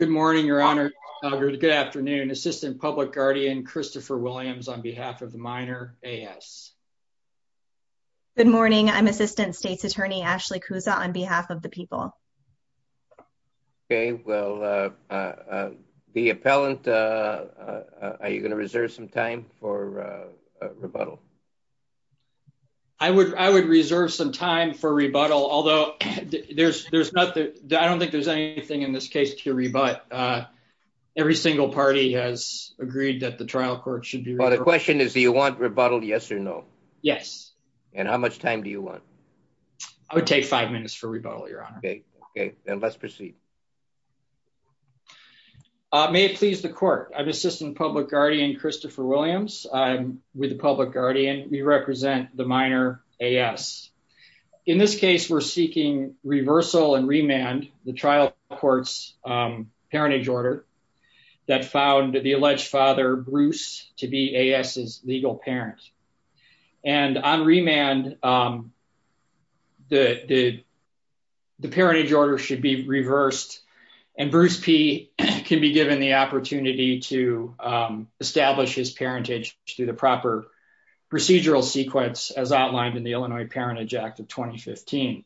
Good morning, Your Honor. Good afternoon. Assistant Public Guardian Christopher Williams on behalf of the Minor AS. Good morning. I'm Assistant State's Attorney Ashley Kouza on behalf of the people. Okay. Well, the appellant, are you going to reserve some time for rebuttal? I would I would reserve some time for rebuttal, although there's there's nothing. I don't think there's anything in this case to rebut. Every single party has agreed that the trial court should be. Well, the question is, do you want rebuttal? Yes or no? Yes. And how much time do you want? I would take five minutes for rebuttal, Your Honor. Okay. And let's proceed. May it please the court. I'm Assistant Public Guardian Christopher Williams. I'm with the Public Guardian. We represent the Minor AS. In this case, we're seeking reversal and remand the trial court's parentage order that found the alleged father, Bruce, to be AS's legal parent. And on remand, the parentage order should be reversed. And Bruce P can be given the opportunity to establish his parentage through the proper procedural sequence, as outlined in the Illinois Parentage Act of 2015.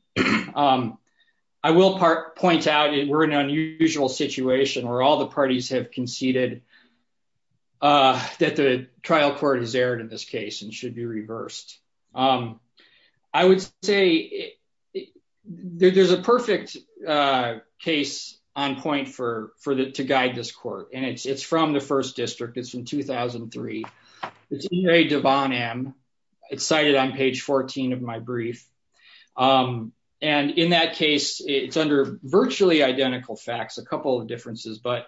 I will point out we're in an unusual situation where all the parties have conceded that the trial court has erred in this case and should be reversed. I would say there's a perfect case on point for for the to guide this court. And it's from the first district. It's from 2003. It's E.A. Devon M. It's cited on page 14 of my brief. And in that case, it's under virtually identical facts, a couple of differences, but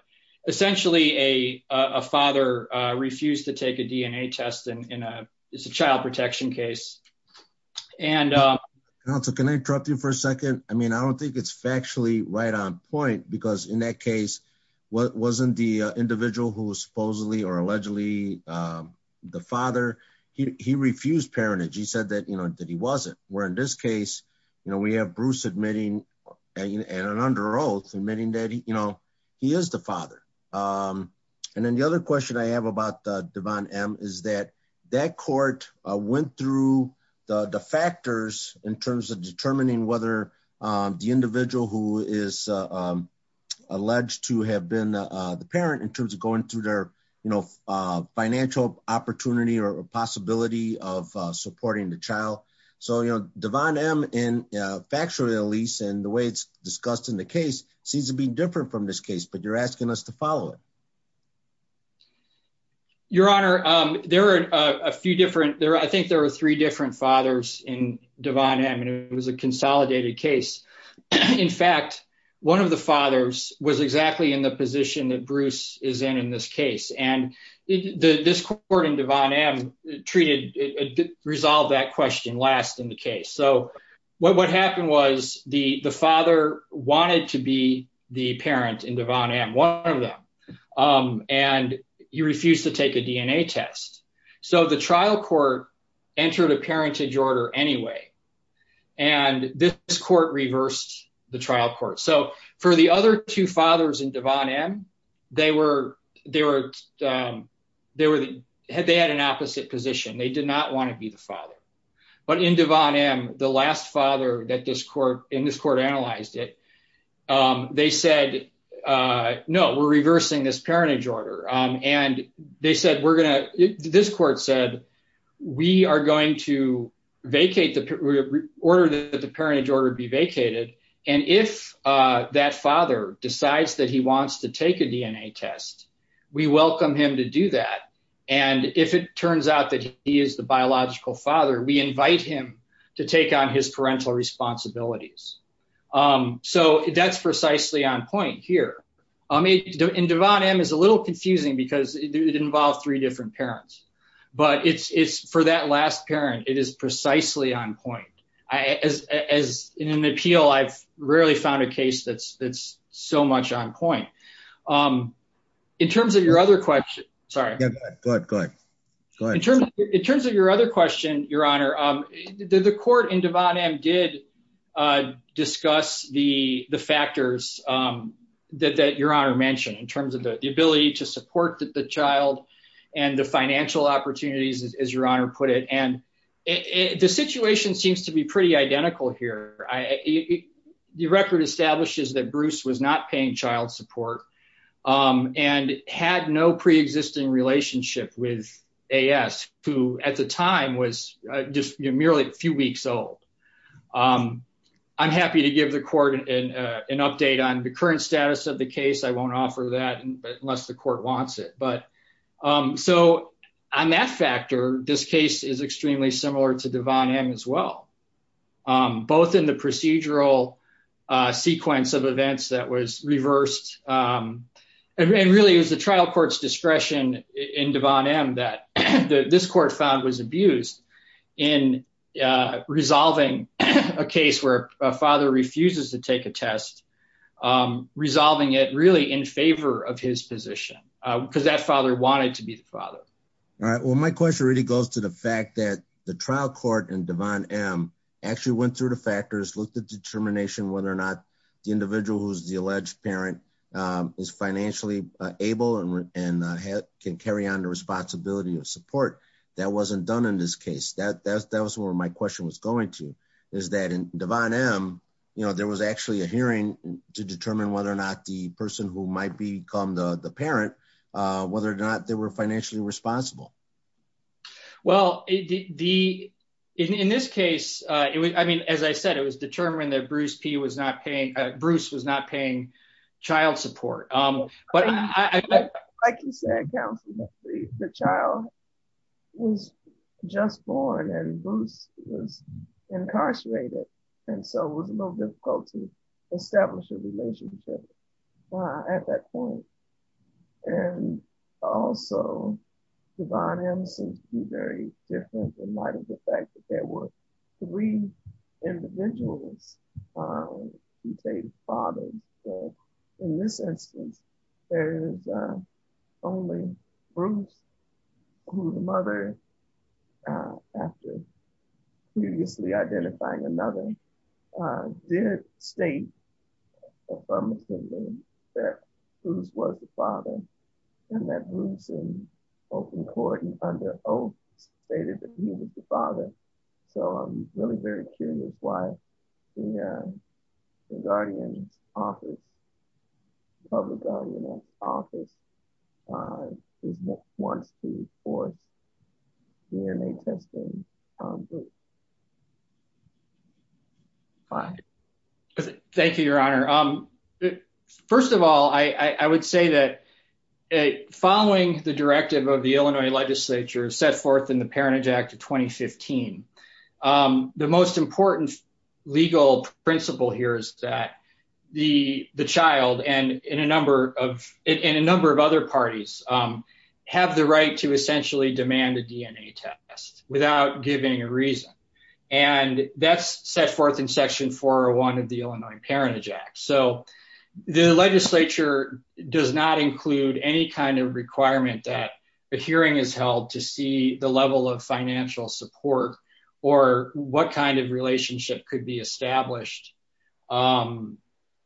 essentially a father refused to take a DNA test in a child protection case. And also, can I interrupt you for a second? I mean, I don't think it's factually right on point, because in that case, what wasn't the individual who supposedly or allegedly the father? He refused parentage. He said that, you know, that he wasn't. Where in this case, you know, we have Bruce admitting and an under oath, admitting that, you know, he is the father. And then the other question I have about Devon M. is that that court went through the factors in terms of determining whether the individual who is alleged to have been the parent in terms of going through their, you know, financial opportunity or possibility of supporting the child. So, you know, Devon M. in factually, at least in the way it's discussed in the case seems to be different from this case, but you're asking us to follow it. Your Honor, there are a few different there. I think there are three different fathers in Devon M. It was a consolidated case. In fact, one of the fathers was exactly in the position that Bruce is in in this case. And this court in Devon M. treated, resolved that question last in the case. So what happened was the father wanted to be the parent in Devon M., one of them. And he refused to take a DNA test. So the trial court entered a parentage order anyway. And this court reversed the trial court. So for the other two fathers in Devon M., they had an opposite position. They did not want to be the father. But in Devon M., the last father in this court analyzed it, they said, no, we're reversing this parentage order. And they said, we're going to, this court said, we are going to vacate the order that the parentage order be vacated. And if that father decides that he wants to take a DNA test, we welcome him to do that. And if it turns out that he is the biological father, we invite him to take on his parental responsibilities. So that's precisely on point here. I mean, Devon M. is a little confusing because it involved three different parents. But it's for that last parent, it is precisely on point. As in an appeal, I've rarely found a case that's so much on point. In terms of your other question, your honor, the court in Devon M. did discuss the factors that your honor mentioned in terms of the ability to support the child and the financial opportunities, as your honor put it. And the situation seems to be pretty identical here. The record establishes that Bruce was not paying child support and had no pre-existing relationship with A.S., who at the time was just merely a few weeks old. I'm happy to give the court an update on the current status of the case. I won't offer that unless the court wants it. But so on that factor, this case is extremely similar to Devon M. as well, both in the procedural sequence of events that was reversed. And really, it was the trial court's discretion in Devon M. that this court found was abused in resolving a case where a father refuses to take a test, resolving it really in favor of his position because that father wanted to be the father. All right. Well, my question really goes to the fact that the trial court in Devon M. actually went through the factors, looked at determination whether or not the individual who's the alleged parent is financially able and can carry on the responsibility of support. That wasn't done in this case. That was where my question was going to, is that in Devon M., you know, there was actually a hearing to determine whether or not the person who might become the parent, whether or not they were financially responsible. Well, in this case, I mean, as I said, it was determined that Bruce P. was not paying, Bruce was not paying child support. Like you said, counsel, the child was just born and Bruce was incarcerated. And so it was a little difficult to establish a relationship at that point. And also, Devon M. seems to be very different in light of the fact that there were three individuals who became fathers. In this instance, there is only Bruce, who the mother, after previously identifying another, did state affirmatively that Bruce was the father and that Bruce in open court and under oath stated that he was the father. So I'm really very curious why the guardian's office, public guardian's office, wants to force DNA testing on Bruce. Thank you, Your Honor. First of all, I would say that following the directive of the Illinois legislature set forth in the Parentage Act of 2015, the most important legal principle here is that the child and a number of other parties have the right to essentially demand a DNA test without giving a reason. And that's set forth in Section 401 of the Illinois Parentage Act. So the legislature does not include any kind of requirement that a hearing is held to see the level of financial support or what kind of relationship could be established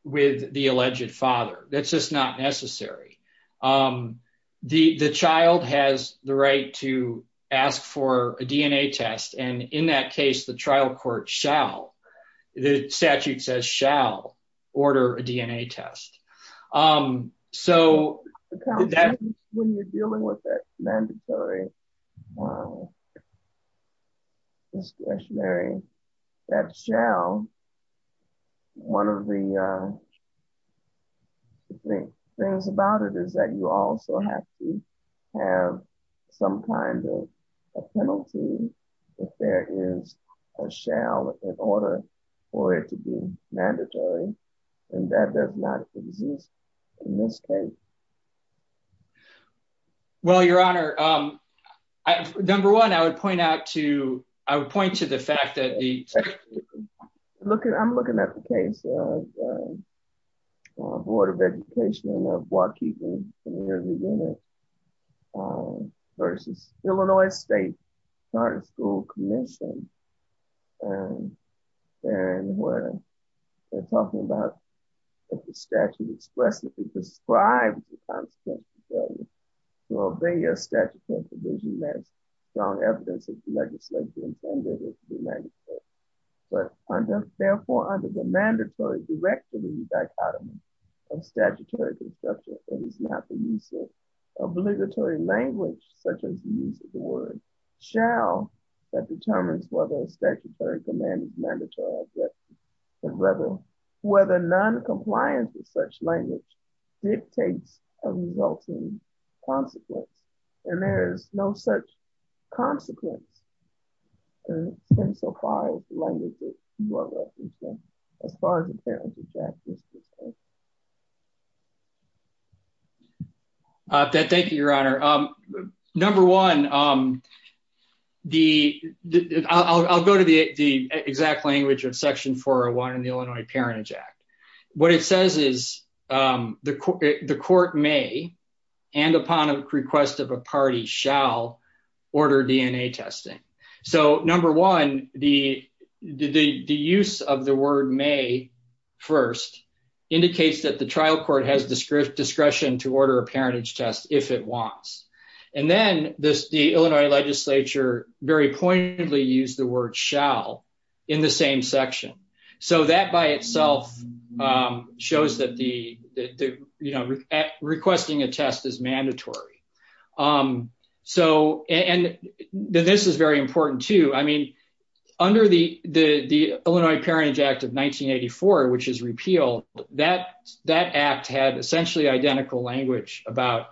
with the alleged father. That's just not necessary. The child has the right to ask for a DNA test. And in that case, the trial court shall, the statute says shall, order a DNA test. When you're dealing with that mandatory discretionary, that shall, one of the things about it is that you also have to have some kind of a penalty if there is a shall in order for it to be mandatory. And that does not exist in this case. Well, Your Honor, number one, I would point out to, I would point to the fact that the... I'm looking at the case of Board of Education of Waukegan versus Illinois State Charter School Commission. And where they're talking about if the statute expressly describes the consequences of failure to obey a statutory provision, there's strong evidence that the legislature intended it to be mandatory. But therefore, under the mandatory directive of the dichotomy of statutory construction, it is not the use of obligatory language, such as the use of the word shall, that determines whether a statutory command is a mandatory objection. And whether non-compliance with such language dictates a resulting consequence. And there is no such consequence in so far as the language that you are referencing, as far as the parents of Jack is concerned. Thank you, Your Honor. Number one, I'll go to the exact language of Section 401 in the Illinois Parentage Act. What it says is the court may and upon request of a party shall order DNA testing. So number one, the use of the word may first indicates that the trial court has discretion to order a parentage test if it wants. And then the Illinois legislature very pointedly used the word shall in the same section. So that by itself shows that requesting a test is mandatory. So, and this is very important too. I mean, under the Illinois Parentage Act of 1984, which is repealed, that act had essentially identical language about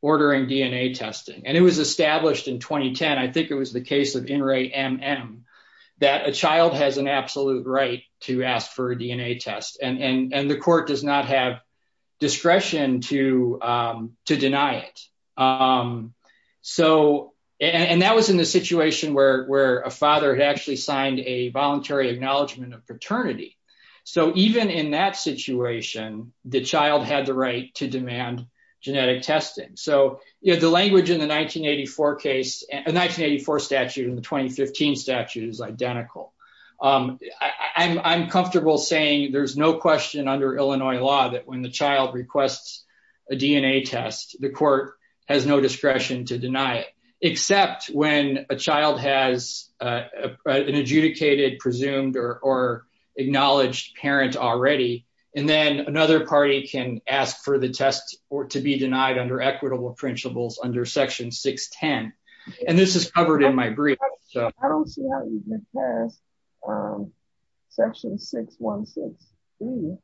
ordering DNA testing. And it was established in 2010, I think it was the case of NRAE-MM, that a child has an absolute right to ask for a DNA test and the court does not have discretion to deny it. So, and that was in the situation where a father had actually signed a voluntary acknowledgement of paternity. So even in that situation, the child had the right to demand genetic testing. So, you know, the language in the 1984 statute and the 2015 statute is identical. I'm comfortable saying there's no question under Illinois law that when the child requests a DNA test, the court has no discretion to deny it. Except when a child has an adjudicated, presumed, or acknowledged parent already. And then another party can ask for the test to be denied under equitable principles under Section 610. And this is covered in my brief. I don't see how you can pass Section 616.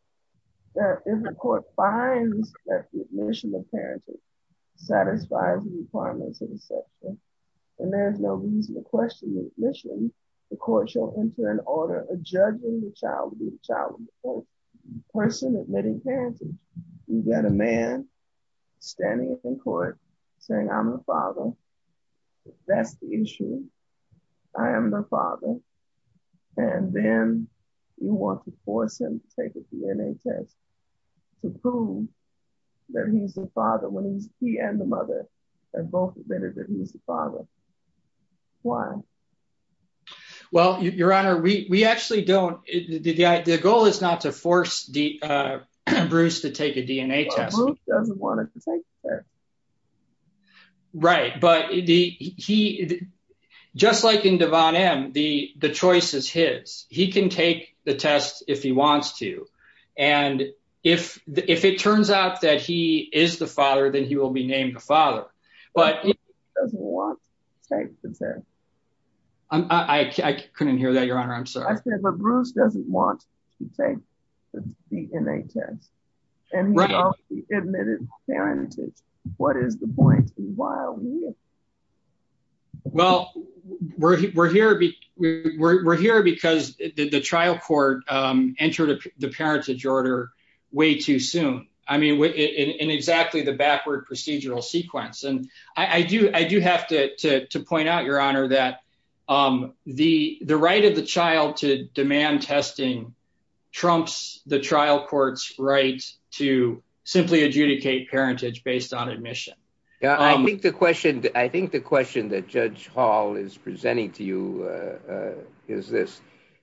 If the court finds that the admission of parenting satisfies the requirements of the section, and there's no reason to question the admission, the court shall enter an order adjudging the child to be a child of the person admitting parenting. You've got a man standing in court saying I'm the father. That's the issue. I am the father. And then you want to force him to take a DNA test to prove that he's the father when he and the mother have both admitted that he's the father. Why? Well, Your Honor, we actually don't. The goal is not to force Bruce to take a DNA test. Well, Bruce doesn't want to take the test. Right. But just like in Devon M., the choice is his. He can take the test if he wants to. And if it turns out that he is the father, then he will be named the father. He doesn't want to take the test. I couldn't hear that, Your Honor. I'm sorry. I said that Bruce doesn't want to take the DNA test. And he already admitted parenting. What is the point? And why are we here? Well, we're here because the trial court entered the parentage order way too soon. I mean, in exactly the backward procedural sequence. And I do have to point out, Your Honor, that the right of the child to demand testing trumps the trial court's right to simply adjudicate parentage based on admission. I think the question that Judge Hall is presenting to you is this.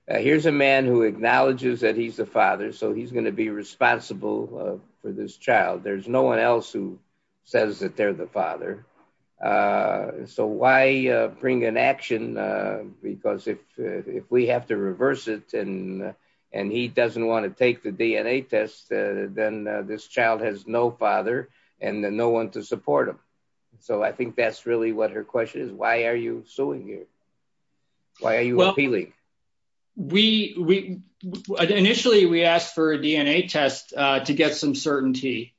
Here's a man who acknowledges that he's the father, so he's going to be responsible for this child. There's no one else who says that they're the father. So why bring an action? Because if we have to reverse it and he doesn't want to take the DNA test, then this child has no father and no one to support him. So I think that's really what her question is. Why are you suing here? Why are you appealing? Initially, we asked for a DNA test to get some certainty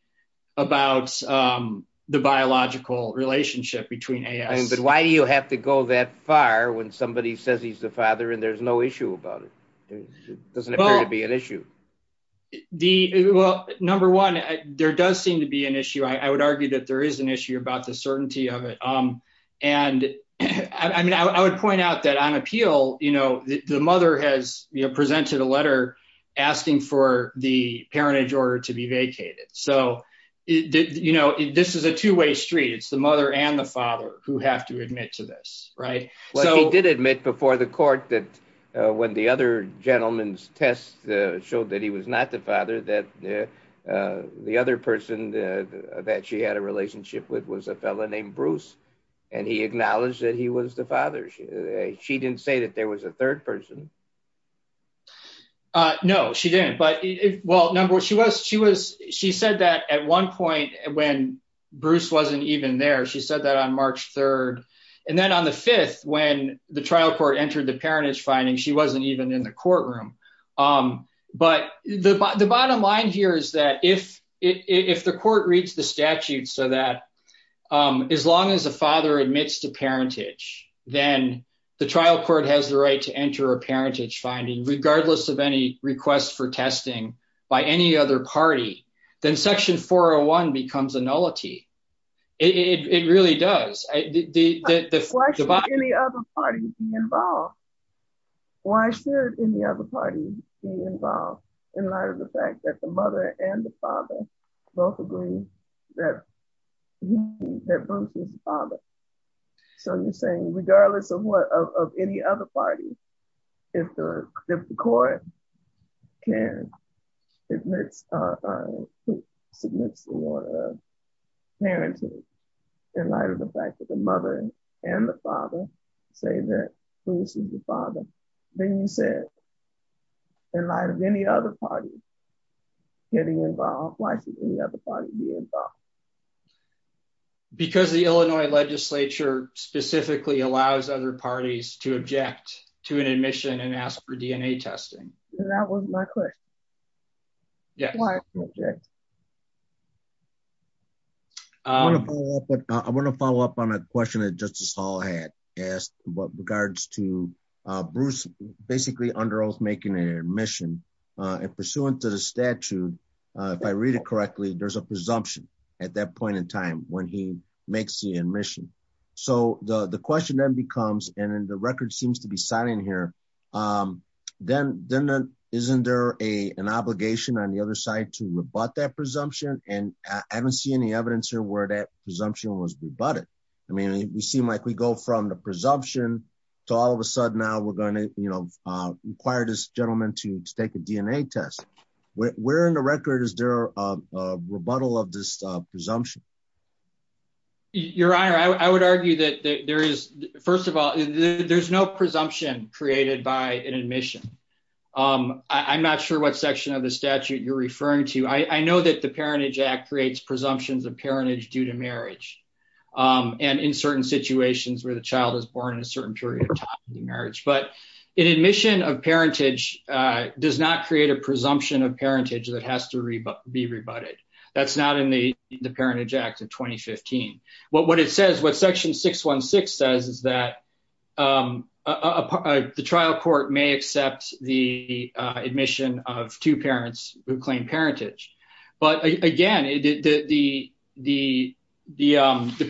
about the biological relationship between A.S. But why do you have to go that far when somebody says he's the father and there's no issue about it? It doesn't appear to be an issue. Well, number one, there does seem to be an issue. I would argue that there is an issue about the certainty of it. I would point out that on appeal, the mother has presented a letter asking for the parentage order to be vacated. So this is a two-way street. It's the mother and the father who have to admit to this, right? He did admit before the court that when the other gentleman's test showed that he was not the father, that the other person that she had a relationship with was a fellow named Bruce. And he acknowledged that he was the father. She didn't say that there was a third person. No, she didn't. But, well, number one, she said that at one point when Bruce wasn't even there, she said that on March 3rd. And then on the 5th, when the trial court entered the parentage finding, she wasn't even in the courtroom. But the bottom line here is that if the court reads the statute so that as long as the father admits to parentage, then the trial court has the right to enter a parentage finding, regardless of any request for testing by any other party, then Section 401 becomes a nullity. It really does. Why should any other party be involved? Why should any other party be involved in light of the fact that the mother and the father both agree that Bruce was the father? So you're saying regardless of what, of any other party, if the court can submits a warrant of parentage in light of the fact that the mother and the father say that Bruce was the father, then you said, in light of any other party getting involved, why should any other party be involved? Because the Illinois legislature specifically allows other parties to object to an admission and ask for DNA testing. That was my question. Yeah. I want to follow up on a question that Justice Hall had asked in regards to Bruce basically under oath making an admission. And pursuant to the statute, if I read it correctly, there's a presumption at that point in time when he makes the admission. So the question then becomes, and the record seems to be signing here, then isn't there an obligation on the other side to rebut that presumption? And I haven't seen any evidence here where that presumption was rebutted. I mean, we seem like we go from the presumption to all of a sudden now we're going to, you know, require this gentleman to take a DNA test. Where in the record is there a rebuttal of this presumption? Your Honor, I would argue that there is, first of all, there's no presumption created by an admission. I'm not sure what section of the statute you're referring to. I know that the Parentage Act creates presumptions of parentage due to marriage and in certain situations where the child is born in a certain period of time in marriage. But an admission of parentage does not create a presumption of parentage that has to be rebutted. That's not in the Parentage Act of 2015. What it says, what section 616 says is that the trial court may accept the admission of two parents who claim parentage. But again, the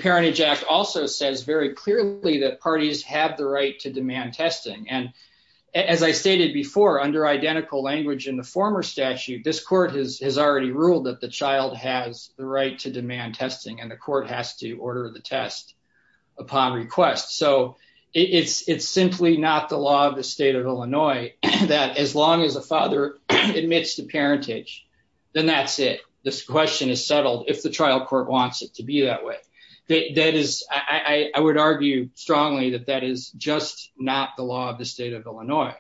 Parentage Act also says very clearly that parties have the right to demand testing. And as I stated before, under identical language in the former statute, this court has already ruled that the child has the right to demand testing and the court has to order the test upon request. So it's simply not the law of the state of Illinois that as long as a father admits to parentage, then that's it. This question is settled if the trial court wants it to be that way. I would argue strongly that that is just not the law of the state of Illinois.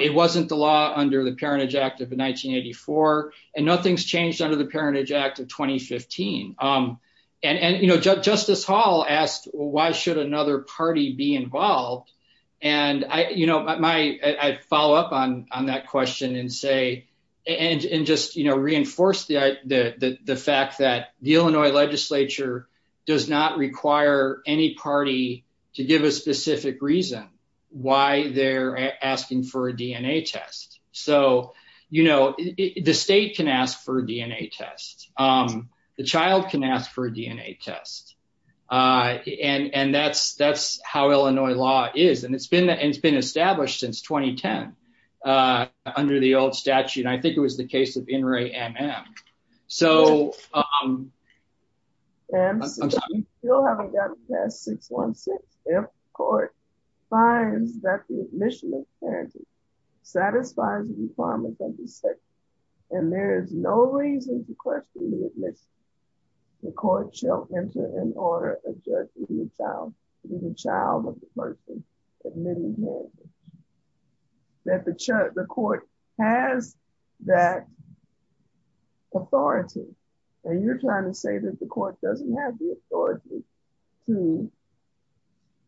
It wasn't the law under the Parentage Act of 1984 and nothing's changed under the Parentage Act of 2015. And Justice Hall asked, why should another party be involved? And I follow up on that question and say and just reinforce the fact that the Illinois legislature does not require any party to give a specific reason why they're asking for a DNA test. So, you know, the state can ask for a DNA test. The child can ask for a DNA test. And that's that's how Illinois law is. And it's been it's been established since 2010 under the old statute. I think it was the case of In re Am Am. So, I'm still haven't gotten past 616. If court finds that the admission of parenting satisfies the requirements of the statute, and there is no reason to question the admission, the court shall enter an order adjudging the child to be the child of the person admitting parenting. That the court has that authority, and you're trying to say that the court doesn't have the authority to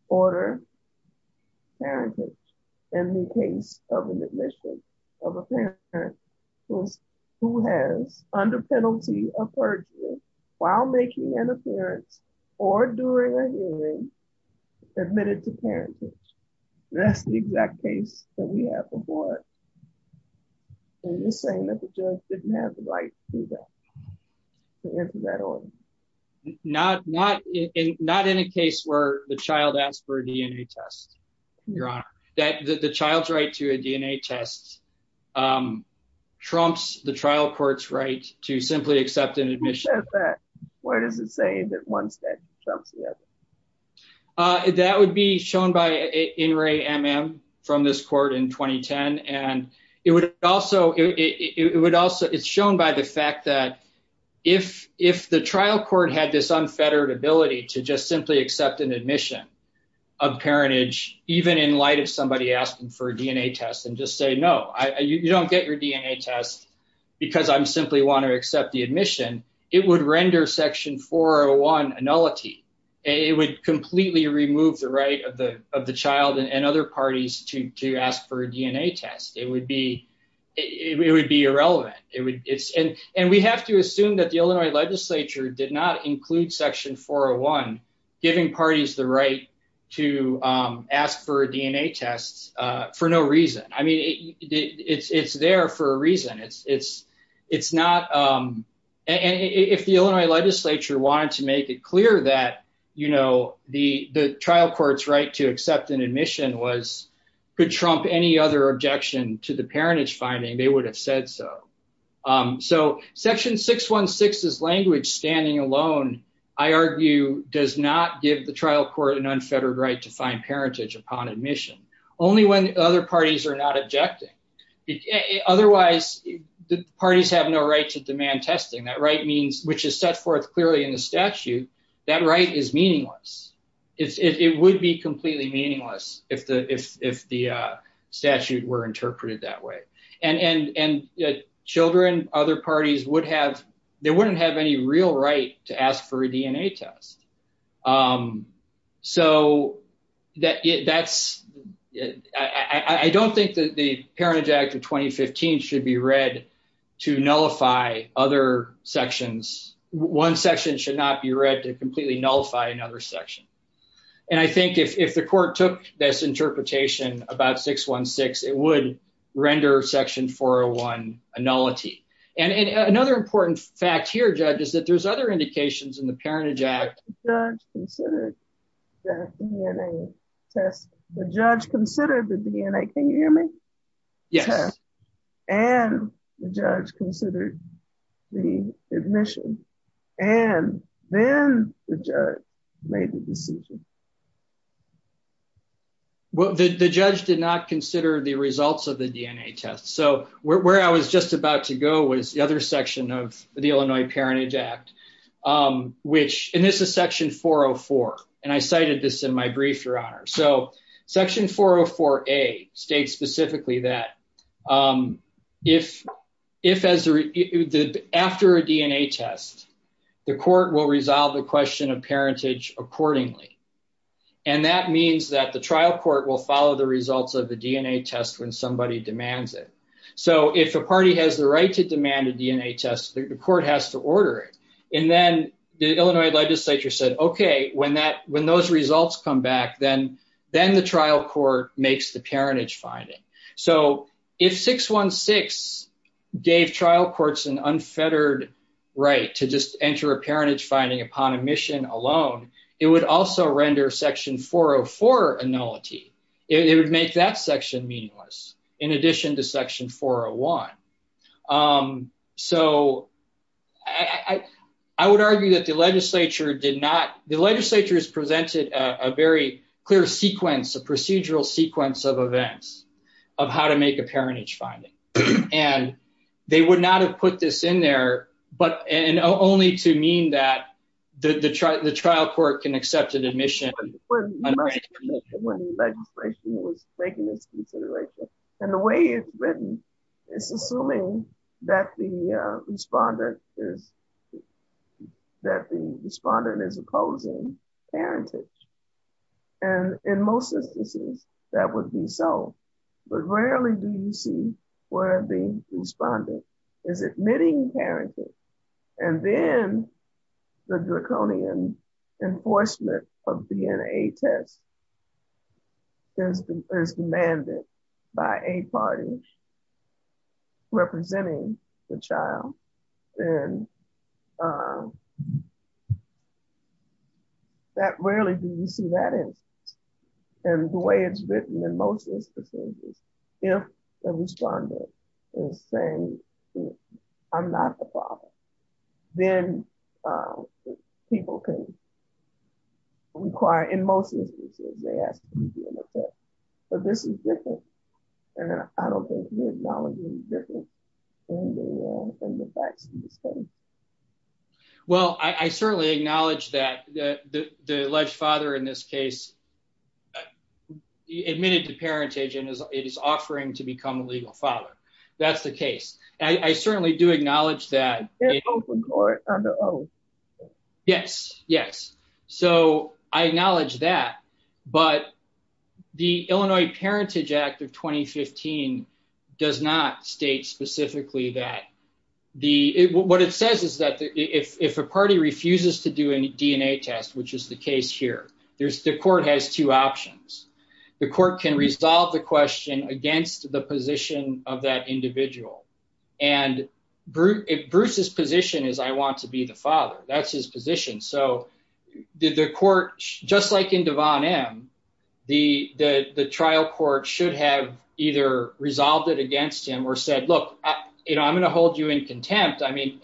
order parentage in the case of an admission of a parent who has, under penalty of perjury, while making an appearance or during a hearing, admitted to parentage. That's the exact case that we have before. And you're saying that the judge didn't have the right to that order. Not, not in not in a case where the child asked for a DNA test. Your honor, that the child's right to a DNA test trumps the trial courts right to simply accept an admission. Where does it say that one step. That would be shown by In re Am Am from this court in 2010, and it would also it would also it's shown by the fact that if, if the trial court had this unfettered ability to just simply accept an admission of parentage, even in light of somebody asking for a DNA test and just say no, you don't get your DNA test. Because I'm simply want to accept the admission, it would render section 401 a nullity, it would completely remove the right of the, of the child and other parties to ask for a DNA test, it would be, it would be irrelevant, it would, it's in, and we have to assume that the Illinois legislature did not include section 401, giving parties the right to ask for DNA tests. For no reason. I mean, it's it's there for a reason it's it's it's not. And if the Illinois legislature wanted to make it clear that you know the the trial courts right to accept an admission was good trump any other objection to the parentage finding they would have said so. So section 616 is language standing alone, I argue, does not give the trial court an unfettered right to find parentage upon admission, only when other parties are not objecting. Otherwise, the parties have no right to demand testing that right means which is set forth clearly in the statute that right is meaningless. It would be completely meaningless if the if the statute were interpreted that way and and and children, other parties would have, they wouldn't have any real right to ask for a DNA test. So that that's, I don't think that the Parentage Act of 2015 should be read to nullify other sections, one section should not be read to completely nullify another section. And I think if the court took this interpretation about 616 it would render section 401 a nullity. And another important fact here judges that there's other indications in the Parentage Act. The judge considered the DNA test, the judge considered the DNA, can you hear me? Yes. And the judge considered the admission, and then the judge made the decision. Well, the judge did not consider the results of the DNA test. So where I was just about to go was the other section of the Illinois Parentage Act, which, and this is section 404 and I cited this in my brief, Your Honor. So section 404A states specifically that if, if as the, after a DNA test, the court will resolve the question of parentage accordingly. And that means that the trial court will follow the results of the DNA test when somebody demands it. So if a party has the right to demand a DNA test, the court has to order it. And then the Illinois legislature said, okay, when that when those results come back, then, then the trial court makes the parentage finding. So if 616 gave trial courts an unfettered right to just enter a parentage finding upon admission alone, it would also render section 404 a nullity. It would make that section meaningless, in addition to section 401. So, I would argue that the legislature did not, the legislature has presented a very clear sequence, a procedural sequence of events of how to make a parentage finding. And they would not have put this in there, but, and only to mean that the trial court can accept an admission. When the legislature was making this consideration, and the way it's written, it's assuming that the respondent is, that the respondent is opposing parentage. And in most instances, that would be so. But rarely do you see where the respondent is admitting parentage, and then the draconian enforcement of DNA tests is demanded by a party representing the child. And that rarely do you see that instance. And the way it's written in most instances, if the respondent is saying, I'm not the father, then people can require, in most instances, they ask for DNA tests. But this is different, and I don't think we acknowledge it's different in the facts of the case. Well, I certainly acknowledge that the alleged father in this case admitted to parentage and is offering to become a legal father. That's the case. I certainly do acknowledge that. They're open court under oath. Yes, yes. So I acknowledge that. But the Illinois Parentage Act of 2015 does not state specifically that. What it says is that if a party refuses to do a DNA test, which is the case here, the court has two options. The court can resolve the question against the position of that individual. And Bruce's position is, I want to be the father. That's his position. So the court, just like in Devon M., the trial court should have either resolved it against him or said, look, I'm going to hold you in contempt. I mean,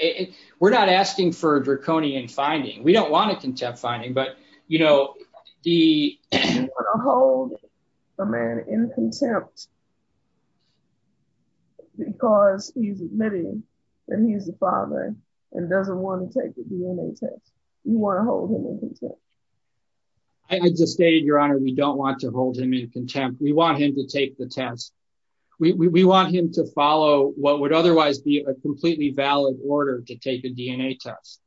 we're not asking for a draconian finding. We don't want a contempt finding. But, you know, you want to hold a man in contempt because he's admitting that he's the father and doesn't want to take the DNA test. You want to hold him in contempt. I just stated, Your Honor, we don't want to hold him in contempt. We want him to take the test. We want him to follow what would otherwise be a completely valid order to take a DNA test.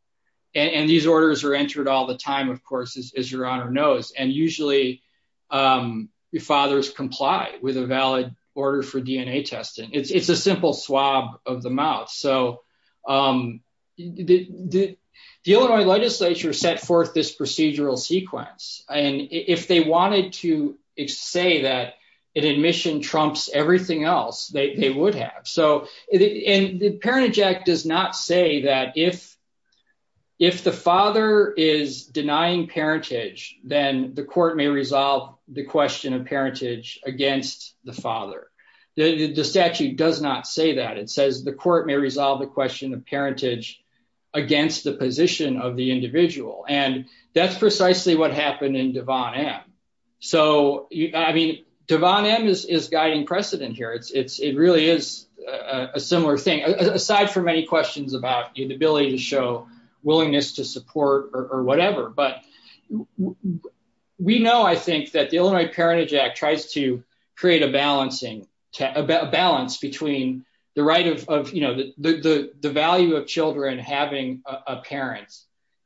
And these orders are entered all the time, of course, as Your Honor knows. And usually fathers comply with a valid order for DNA testing. It's a simple swab of the mouth. So the Illinois legislature set forth this procedural sequence. And if they wanted to say that an admission trumps everything else, they would have. So the Parentage Act does not say that if the father is denying parentage, then the court may resolve the question of parentage against the father. The statute does not say that. It says the court may resolve the question of parentage against the position of the individual. And that's precisely what happened in Devon M. So, I mean, Devon M is guiding precedent here. It really is a similar thing, aside from any questions about the ability to show willingness to support or whatever. But we know, I think, that the Illinois Parentage Act tries to create a balance between the value of children having a parent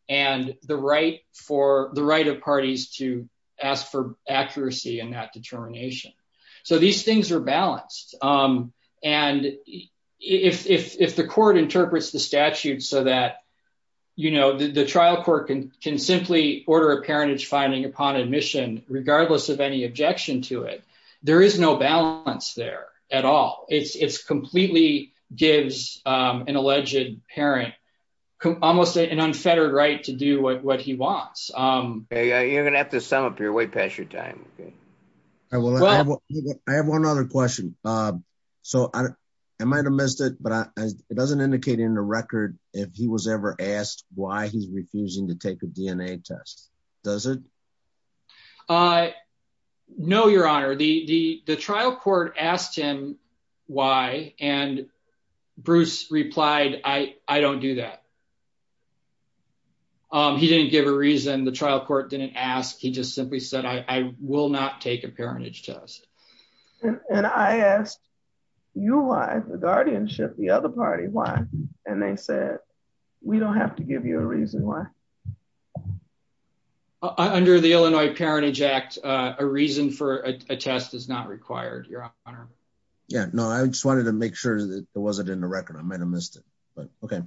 and the right of parties to ask for accuracy in that determination. So these things are balanced. And if the court interprets the statute so that, you know, the trial court can simply order a parentage finding upon admission, regardless of any objection to it, there is no balance there at all. It completely gives an alleged parent almost an unfettered right to do what he wants. You're going to have to sum up here way past your time. I have one other question. So I might have missed it, but it doesn't indicate in the record if he was ever asked why he's refusing to take a DNA test, does it? No, Your Honor. The trial court asked him why, and Bruce replied, I don't do that. He didn't give a reason. The trial court didn't ask. He just simply said, I will not take a parentage test. And I asked you why, the guardianship, the other party, why? And they said, we don't have to give you a reason why. Under the Illinois Parentage Act, a reason for a test is not required, Your Honor. Yeah, no, I just wanted to make sure that it wasn't in the record. I might have missed it, but okay.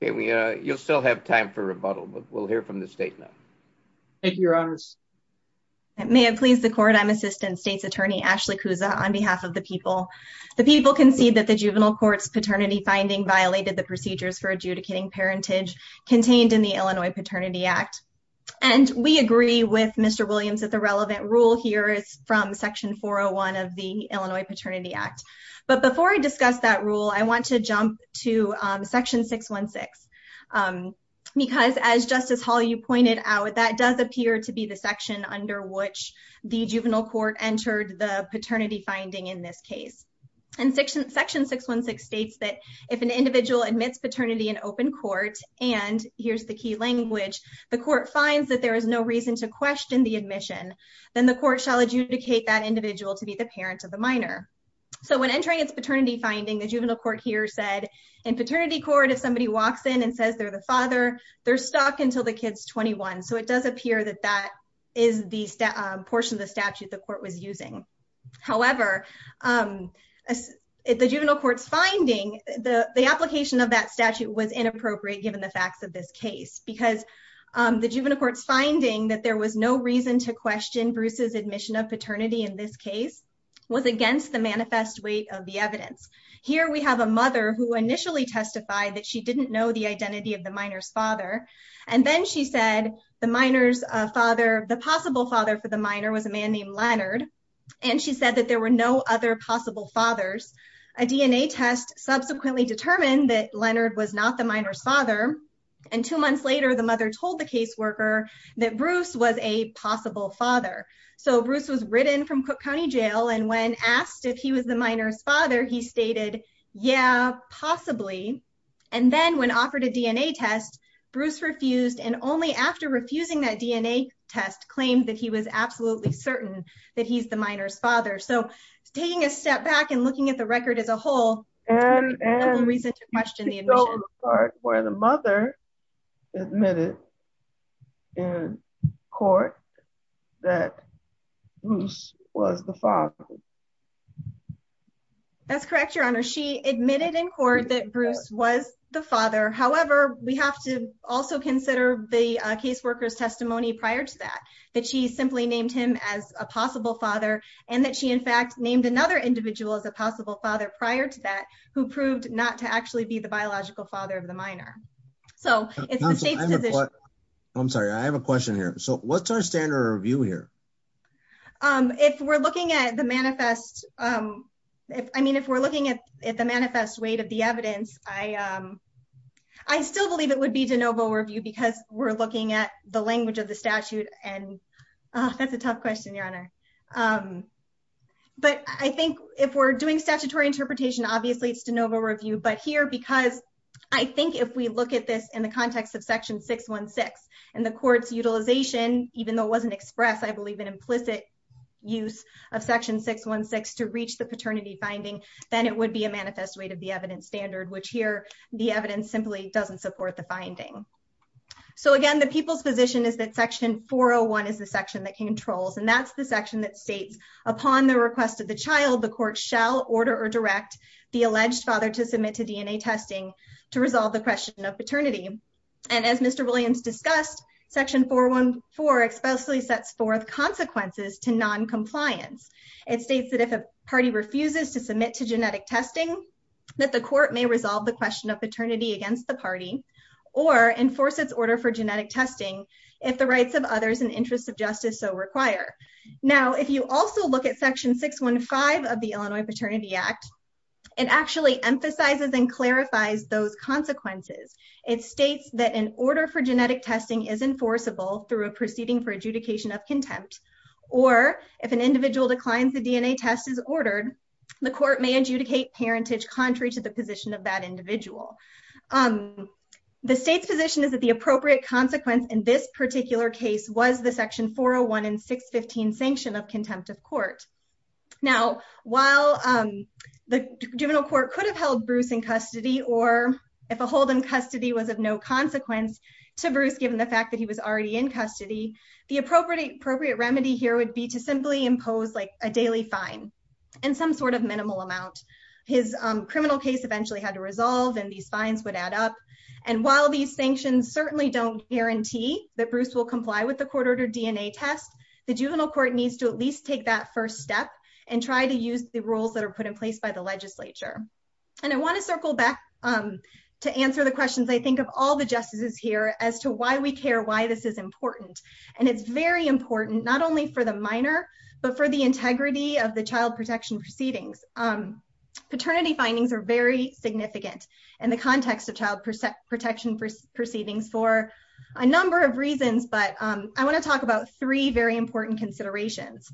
You'll still have time for rebuttal, but we'll hear from the state now. Thank you, Your Honors. May it please the court, I'm Assistant State's Attorney Ashley Kouza on behalf of the people. The people concede that the juvenile court's paternity finding violated the procedures for adjudicating parentage contained in the Illinois Paternity Act. And we agree with Mr. Williams that the relevant rule here is from Section 401 of the Illinois Paternity Act. But before I discuss that rule, I want to jump to Section 616. Because as Justice Hall, you pointed out, that does appear to be the section under which the juvenile court entered the paternity finding in this case. And Section 616 states that if an individual admits paternity in open court, and here's the key language, the court finds that there is no reason to question the admission. Then the court shall adjudicate that individual to be the parent of the minor. So when entering its paternity finding, the juvenile court here said, in paternity court, if somebody walks in and says they're the father, they're stuck until the kid's 21. So it does appear that that is the portion of the statute the court was using. However, the juvenile court's finding, the application of that statute was inappropriate, given the facts of this case. Because the juvenile court's finding that there was no reason to question Bruce's admission of paternity in this case was against the manifest weight of the evidence. Here we have a mother who initially testified that she didn't know the identity of the minor's father. And then she said the minor's father, the possible father for the minor was a man named Leonard. And she said that there were no other possible fathers. A DNA test subsequently determined that Leonard was not the minor's father. And two months later, the mother told the caseworker that Bruce was a possible father. So Bruce was ridden from Cook County Jail. And when asked if he was the minor's father, he stated, yeah, possibly. And then when offered a DNA test, Bruce refused. And only after refusing that DNA test claimed that he was absolutely certain that he's the minor's father. So taking a step back and looking at the record as a whole, there's no reason to question the admission. And this is the part where the mother admitted in court that Bruce was the father. That's correct, Your Honor. She admitted in court that Bruce was the father. However, we have to also consider the caseworker's testimony prior to that. That she simply named him as a possible father. And that she, in fact, named another individual as a possible father prior to that, who proved not to actually be the biological father of the minor. So it's the state's position. I'm sorry, I have a question here. So what's our standard review here? If we're looking at the manifest weight of the evidence, I still believe it would be de novo review because we're looking at the language of the statute. But I think if we're doing statutory interpretation, obviously it's de novo review. But here, because I think if we look at this in the context of Section 616 and the court's utilization, even though it wasn't expressed, I believe an implicit use of Section 616 to reach the paternity finding, then it would be a manifest weight of the evidence standard, which here the evidence simply doesn't support the finding. So again, the people's position is that Section 401 is the section that controls. And that's the section that states, upon the request of the child, the court shall order or direct the alleged father to submit to DNA testing to resolve the question of paternity. And as Mr. Williams discussed, Section 414 explicitly sets forth consequences to noncompliance. It states that if a party refuses to submit to genetic testing, that the court may resolve the question of paternity against the party, or enforce its order for genetic testing if the rights of others and interests of justice so require. Now, if you also look at Section 615 of the Illinois Paternity Act, it actually emphasizes and clarifies those consequences. It states that an order for genetic testing is enforceable through a proceeding for adjudication of contempt, or if an individual declines the DNA test as ordered, the court may adjudicate parentage contrary to the position of that individual. The state's position is that the appropriate consequence in this particular case was the Section 401 and 615 sanction of contempt of court. Now, while the juvenile court could have held Bruce in custody, or if a hold in custody was of no consequence to Bruce, given the fact that he was already in custody, the appropriate remedy here would be to simply impose a daily fine in some sort of minimal amount. His criminal case eventually had to resolve, and these fines would add up. And while these sanctions certainly don't guarantee that Bruce will comply with the court-ordered DNA test, the juvenile court needs to at least take that first step and try to use the rules that are put in place by the legislature. And I want to circle back to answer the questions, I think, of all the justices here as to why we care, why this is important. And it's very important, not only for the minor, but for the integrity of the child protection proceedings. Paternity findings are very significant in the context of child protection proceedings for a number of reasons, but I want to talk about three very important considerations.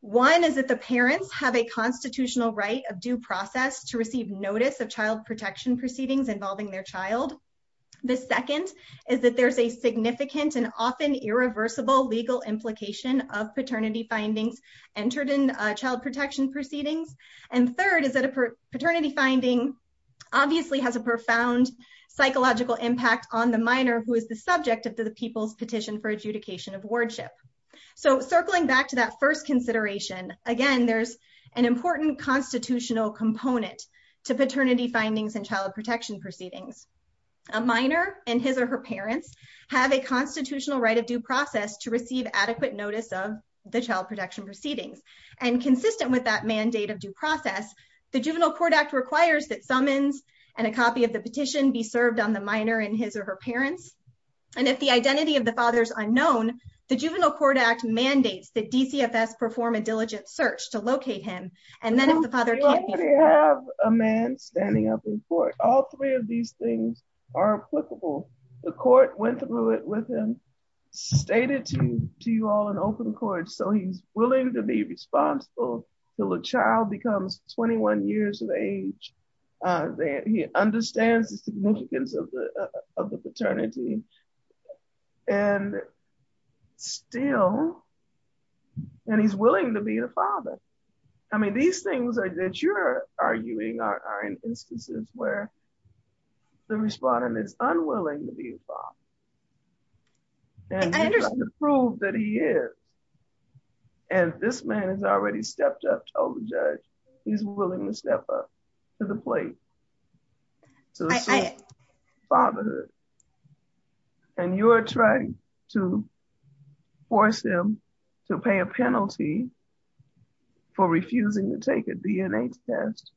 One is that the parents have a constitutional right of due process to receive notice of child protection proceedings involving their child. The second is that there's a significant and often irreversible legal implication of paternity findings entered in child protection proceedings. And third is that a paternity finding obviously has a profound psychological impact on the minor, who is the subject of the People's Petition for Adjudication of Wardship. So circling back to that first consideration, again, there's an important constitutional component to paternity findings in child protection proceedings. A minor and his or her parents have a constitutional right of due process to receive adequate notice of the child protection proceedings. And consistent with that mandate of due process, the Juvenile Court Act requires that summons and a copy of the petition be served on the minor and his or her parents. And if the identity of the father is unknown, the Juvenile Court Act mandates that DCFS perform a diligent search to locate him. And then if the father can't be found... You already have a man standing up in court. All three of these things are applicable. The court went through it with him, stated to you all in open court, so he's willing to be responsible until the child becomes 21 years of age. He understands the significance of the paternity. And still, and he's willing to be the father. I mean, these things that you're arguing are in instances where the respondent is unwilling to be a father. And you're trying to prove that he is. And this man has already stepped up, told the judge, he's willing to step up to the plate. To assume fatherhood. And you're trying to force him to pay a penalty for refusing to take a DNA test.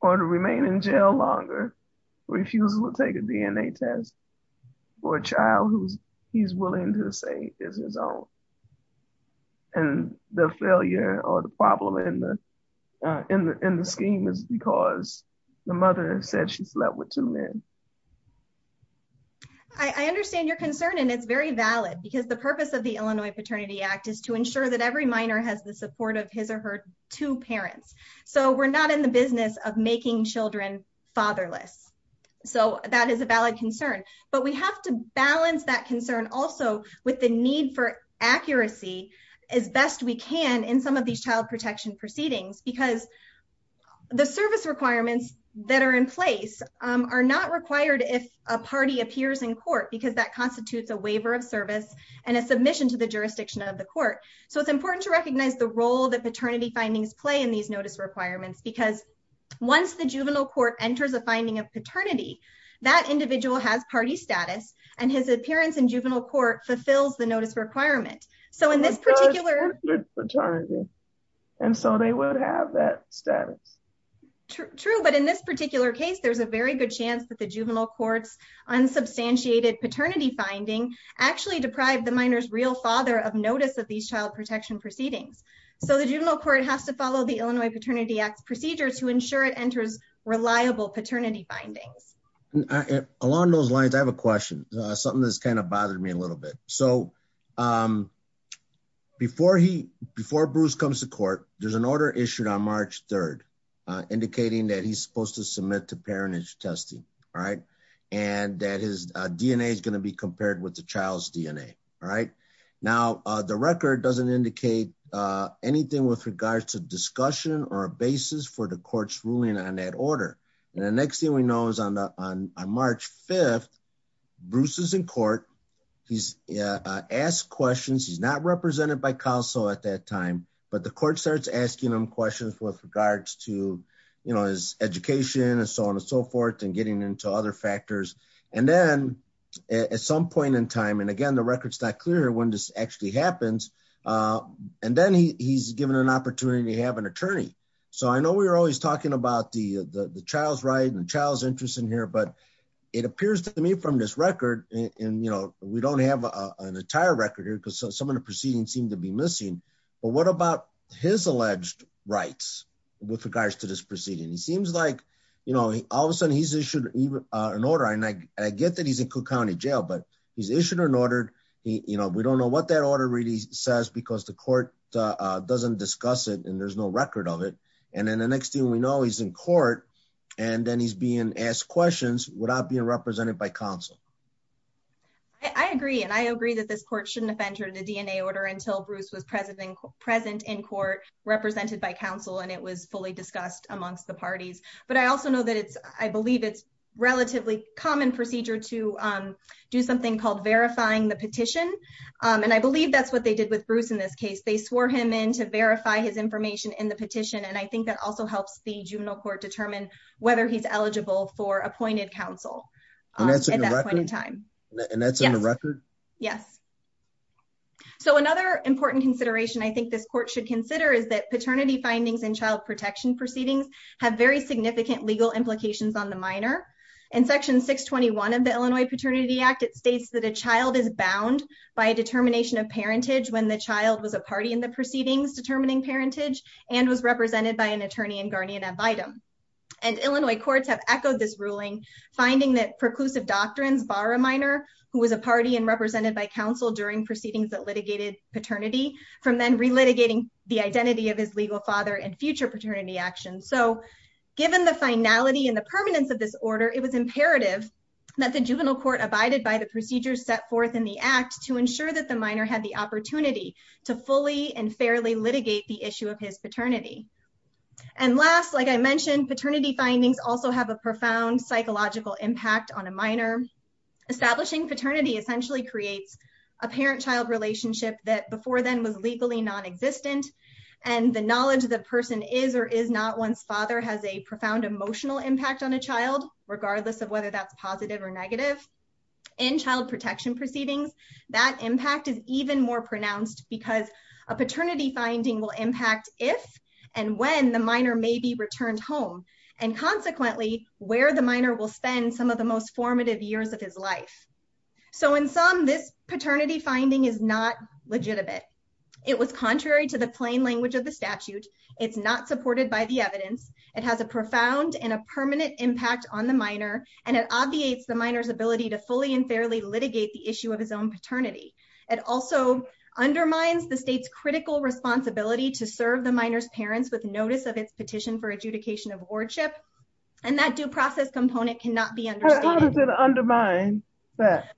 Or to remain in jail longer for refusing to take a DNA test for a child who he's willing to say is his own. And the failure or the problem in the scheme is because the mother said she slept with two men. I understand your concern, and it's very valid. Because the purpose of the Illinois Paternity Act is to ensure that every minor has the support of his or her two parents. So we're not in the business of making children fatherless. So that is a valid concern. But we have to balance that concern also with the need for accuracy as best we can in some of these child protection proceedings. Because the service requirements that are in place are not required if a party appears in court. Because that constitutes a waiver of service and a submission to the jurisdiction of the court. So it's important to recognize the role that paternity findings play in these notice requirements. Because once the juvenile court enters a finding of paternity, that individual has party status. And his appearance in juvenile court fulfills the notice requirement. And so they would have that status. True, but in this particular case, there's a very good chance that the juvenile court's unsubstantiated paternity finding actually deprived the minor's real father of notice of these child protection proceedings. So the juvenile court has to follow the Illinois Paternity Act's procedures to ensure it enters reliable paternity findings. Along those lines, I have a question. Something that's kind of bothered me a little bit. So before Bruce comes to court, there's an order issued on March 3rd, indicating that he's supposed to submit to parentage testing. And that his DNA is going to be compared with the child's DNA. Now, the record doesn't indicate anything with regards to discussion or a basis for the court's ruling on that order. And the next thing we know is on March 5th, Bruce is in court. He's asked questions. He's not represented by counsel at that time. But the court starts asking him questions with regards to his education and so on and so forth and getting into other factors. And then at some point in time, and again, the record's not clear when this actually happens. And then he's given an opportunity to have an attorney. So I know we were always talking about the child's right and the child's interest in here. But it appears to me from this record, and we don't have an entire record here because some of the proceedings seem to be missing. But what about his alleged rights with regards to this proceeding? It seems like, you know, all of a sudden he's issued an order. And I get that he's in Cook County Jail, but he's issued an order. We don't know what that order really says because the court doesn't discuss it and there's no record of it. And then the next thing we know, he's in court and then he's being asked questions without being represented by counsel. I agree. And I agree that this court shouldn't have entered a DNA order until Bruce was present in court, represented by counsel, and it was fully discussed amongst the parties. But I also know that it's, I believe it's relatively common procedure to do something called verifying the petition. And I believe that's what they did with Bruce in this case. They swore him in to verify his information in the petition. And I think that also helps the juvenile court determine whether he's eligible for appointed counsel. At that point in time. And that's in the record? Yes. So another important consideration I think this court should consider is that paternity findings and child protection proceedings have very significant legal implications on the minor. In Section 621 of the Illinois Paternity Act, it states that a child is bound by a determination of parentage when the child was a party in the proceedings determining parentage and was represented by an attorney and guardian ad vitem. And Illinois courts have echoed this ruling, finding that preclusive doctrines bar a minor who was a party and represented by counsel during proceedings that litigated paternity from then relitigating the identity of his legal father and future paternity actions. So, given the finality and the permanence of this order, it was imperative that the juvenile court abided by the procedures set forth in the act to ensure that the minor had the opportunity to fully and fairly litigate the issue of his paternity. And last, like I mentioned, paternity findings also have a profound psychological impact on a minor. Establishing paternity essentially creates a parent-child relationship that before then was legally non-existent. And the knowledge the person is or is not one's father has a profound emotional impact on a child, regardless of whether that's positive or negative. In child protection proceedings, that impact is even more pronounced because a paternity finding will impact if and when the minor may be returned home and, consequently, where the minor will spend some of the most formative years of his life. So in sum, this paternity finding is not legitimate. It was contrary to the plain language of the statute. It's not supported by the evidence. It has a profound and a permanent impact on the minor, and it obviates the minor's ability to fully and fairly litigate the issue of his own paternity. It also undermines the state's critical responsibility to serve the minor's parents with notice of its petition for adjudication of wardship, and that due process component cannot be understated. How does it undermine that?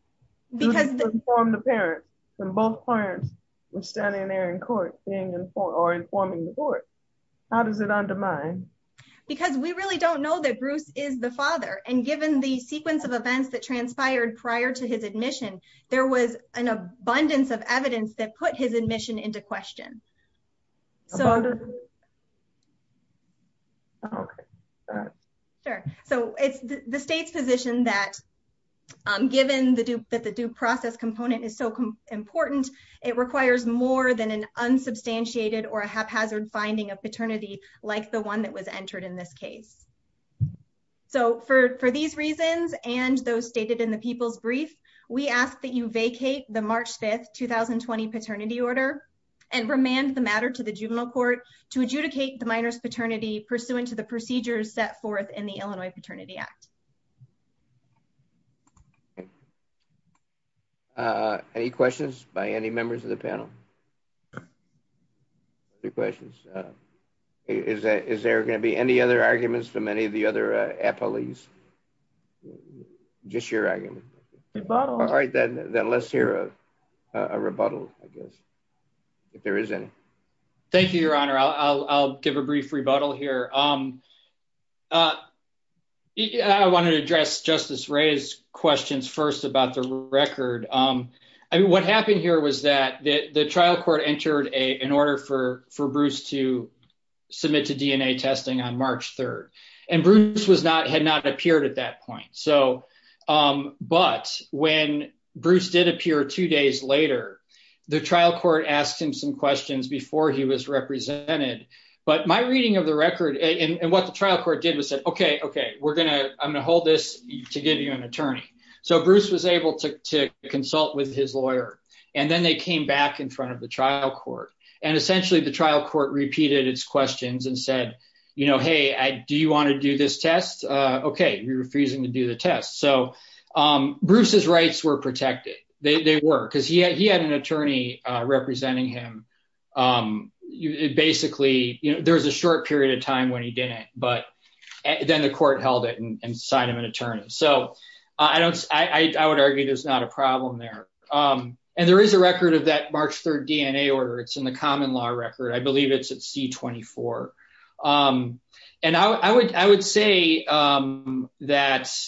Because- To inform the parents, and both parents were standing there in court being informed, or informing the court. How does it undermine? Because we really don't know that Bruce is the father, and given the sequence of events that transpired prior to his admission, there was an abundance of evidence that put his admission into question. So- Okay. Sure. So it's the state's position that, given that the due process component is so important, it requires more than an unsubstantiated or a haphazard finding of paternity like the one that was entered in this case. So for these reasons, and those stated in the people's brief, we ask that you vacate the March 5th, 2020 paternity order, and remand the matter to the juvenile court to adjudicate the minor's paternity pursuant to the procedures set forth in the Illinois Paternity Act. Any questions by any members of the panel? Two questions. Is there going to be any other arguments from any of the other appellees? Just your argument. Rebuttal. All right, then let's hear a rebuttal, I guess, if there is any. Thank you, Your Honor. I'll give a brief rebuttal here. I wanted to address Justice Ray's questions first about the record. I mean, what happened here was that the trial court entered an order for Bruce to submit to DNA testing on March 3rd, and Bruce had not appeared at that point. But when Bruce did appear two days later, the trial court asked him some questions before he was represented. But my reading of the record and what the trial court did was said, okay, okay, I'm going to hold this to give you an attorney. So Bruce was able to consult with his lawyer, and then they came back in front of the trial court. And essentially, the trial court repeated its questions and said, you know, hey, do you want to do this test? Okay, you're refusing to do the test. So Bruce's rights were protected. They were because he had an attorney representing him. Basically, there was a short period of time when he did it, but then the court held it and signed him an attorney. So I would argue there's not a problem there. And there is a record of that March 3rd DNA order. It's in the common law record. I believe it's at C-24. And I would say that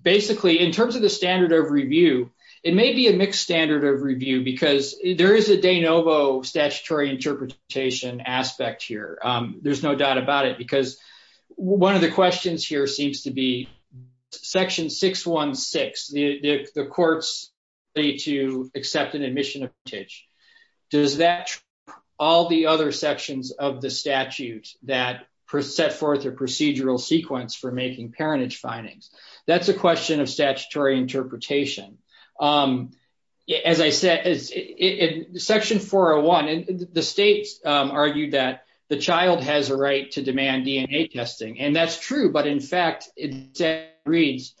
basically, in terms of the standard of review, it may be a mixed standard of review because there is a de novo statutory interpretation aspect here. There's no doubt about it, because one of the questions here seems to be Section 616, the court's ability to accept an admission of parentage. Does that all the other sections of the statute that set forth a procedural sequence for making parentage findings? That's a question of statutory interpretation. As I said, Section 401, the states argued that the child has a right to demand DNA testing. And that's true. But in fact, it reads,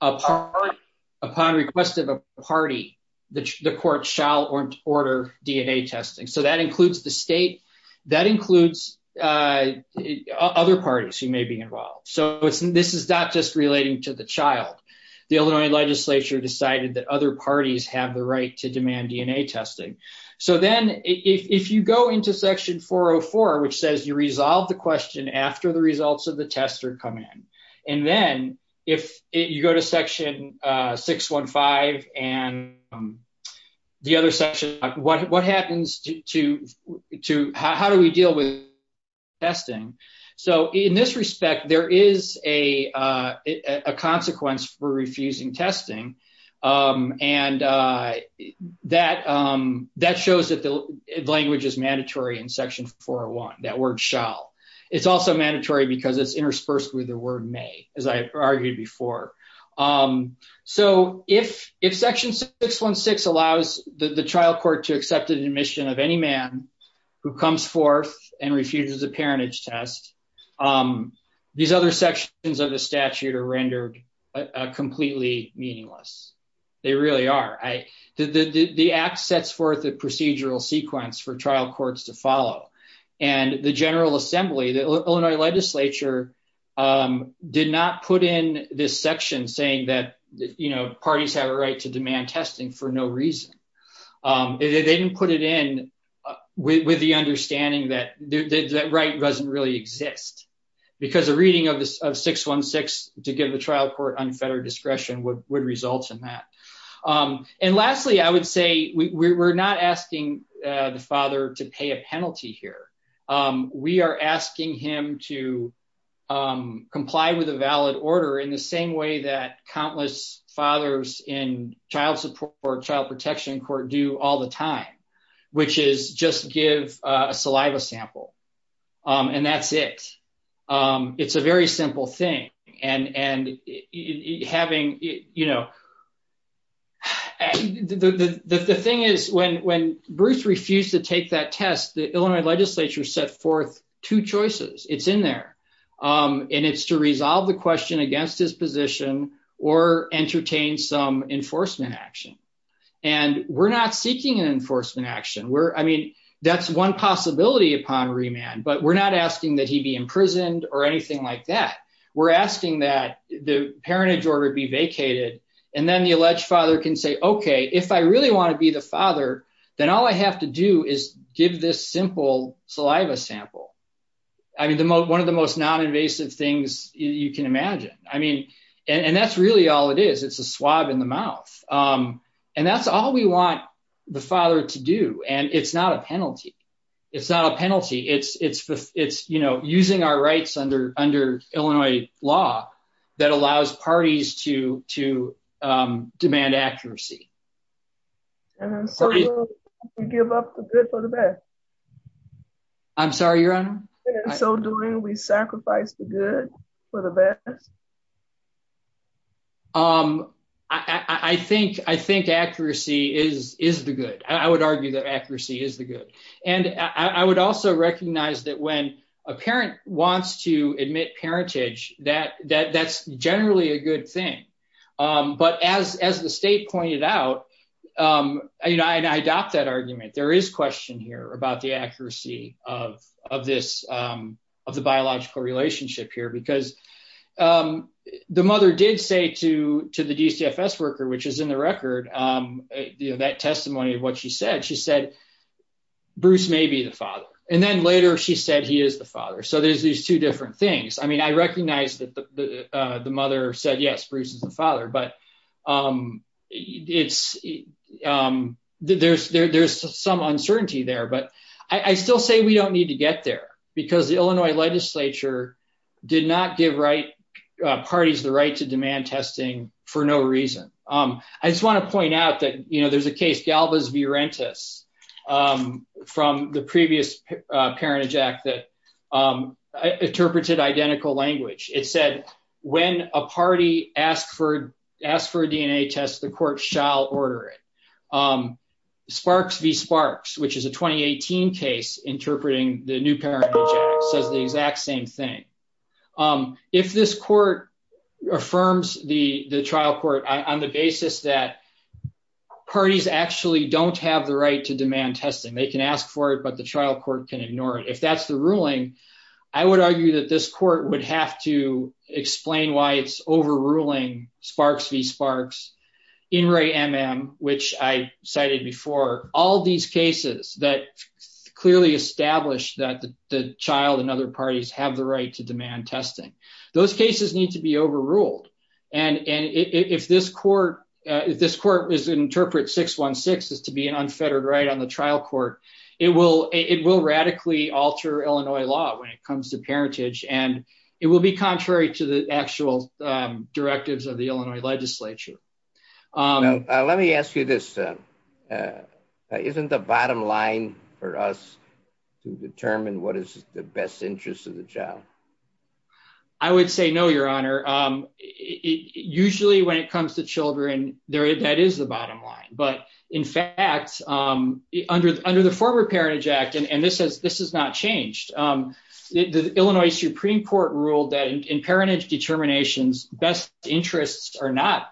upon request of a party, the court shall order DNA testing. So that includes the state. That includes other parties who may be involved. So this is not just relating to the child. The Illinois legislature decided that other parties have the right to demand DNA testing. So then if you go into Section 404, which says you resolve the question after the results of the test are come in, and then if you go to Section 615 and the other section, what happens to how do we deal with testing? So in this respect, there is a consequence for refusing testing. And that shows that the language is mandatory in Section 401, that word shall. It's also mandatory because it's interspersed with the word may, as I argued before. So if Section 616 allows the trial court to accept an admission of any man who comes forth and refuses a parentage test, these other sections of the statute are rendered completely meaningless. They really are. The act sets forth a procedural sequence for trial courts to follow. And the General Assembly, the Illinois legislature, did not put in this section saying that parties have a right to demand testing for no reason. They didn't put it in with the understanding that that right doesn't really exist. Because a reading of 616 to give the trial court unfettered discretion would result in that. And lastly, I would say we're not asking the father to pay a penalty here. We are asking him to comply with a valid order in the same way that countless fathers in child support or child protection court do all the time, which is just give a saliva sample. And that's it. It's a very simple thing. The thing is, when Bruce refused to take that test, the Illinois legislature set forth two choices. It's in there. And it's to resolve the question against his position or entertain some enforcement action. And we're not seeking an enforcement action. I mean, that's one possibility upon remand. But we're not asking that he be imprisoned or anything like that. We're asking that the parentage order be vacated. And then the alleged father can say, OK, if I really want to be the father, then all I have to do is give this simple saliva sample. I mean, one of the most noninvasive things you can imagine. I mean, and that's really all it is. It's a swab in the mouth. And that's all we want the father to do. And it's not a penalty. It's not a penalty. It's it's it's, you know, using our rights under under Illinois law that allows parties to to demand accuracy. And so we give up the good for the bad. I'm sorry, your honor. So doing we sacrifice the good for the bad. Um, I think I think accuracy is is the good. I would argue that accuracy is the good. And I would also recognize that when a parent wants to admit parentage, that that that's generally a good thing. But as as the state pointed out, I adopt that argument. There is question here about the accuracy of of this of the biological relationship here, because the mother did say to to the DCFS worker, which is in the record that testimony of what she said. She said Bruce may be the father. And then later she said he is the father. So there's these two different things. I mean, I recognize that the mother said, yes, Bruce is the father. But it's there's there's some uncertainty there. But I still say we don't need to get there because the Illinois legislature did not give right parties the right to demand testing for no reason. I just want to point out that, you know, there's a case Galvez v. Rentis from the previous Parentage Act that interpreted identical language. It said when a party asked for asked for a DNA test, the court shall order it. Sparks v. Sparks, which is a 2018 case interpreting the new parent says the exact same thing. If this court affirms the trial court on the basis that parties actually don't have the right to demand testing, they can ask for it, but the trial court can ignore it. If that's the ruling, I would argue that this court would have to explain why it's overruling Sparks v. Sparks. In re MM, which I cited before, all these cases that clearly established that the child and other parties have the right to demand testing. Those cases need to be overruled. And if this court, if this court is interpret 616 is to be an unfettered right on the trial court, it will it will radically alter Illinois law when it comes to parentage. And it will be contrary to the actual directives of the Illinois legislature. Let me ask you this. Isn't the bottom line for us to determine what is the best interest of the job? I would say no, Your Honor. Usually when it comes to children, that is the bottom line. But in fact, under under the former Parentage Act and this has this has not changed. The Illinois Supreme Court ruled that in parentage determinations, best interests are not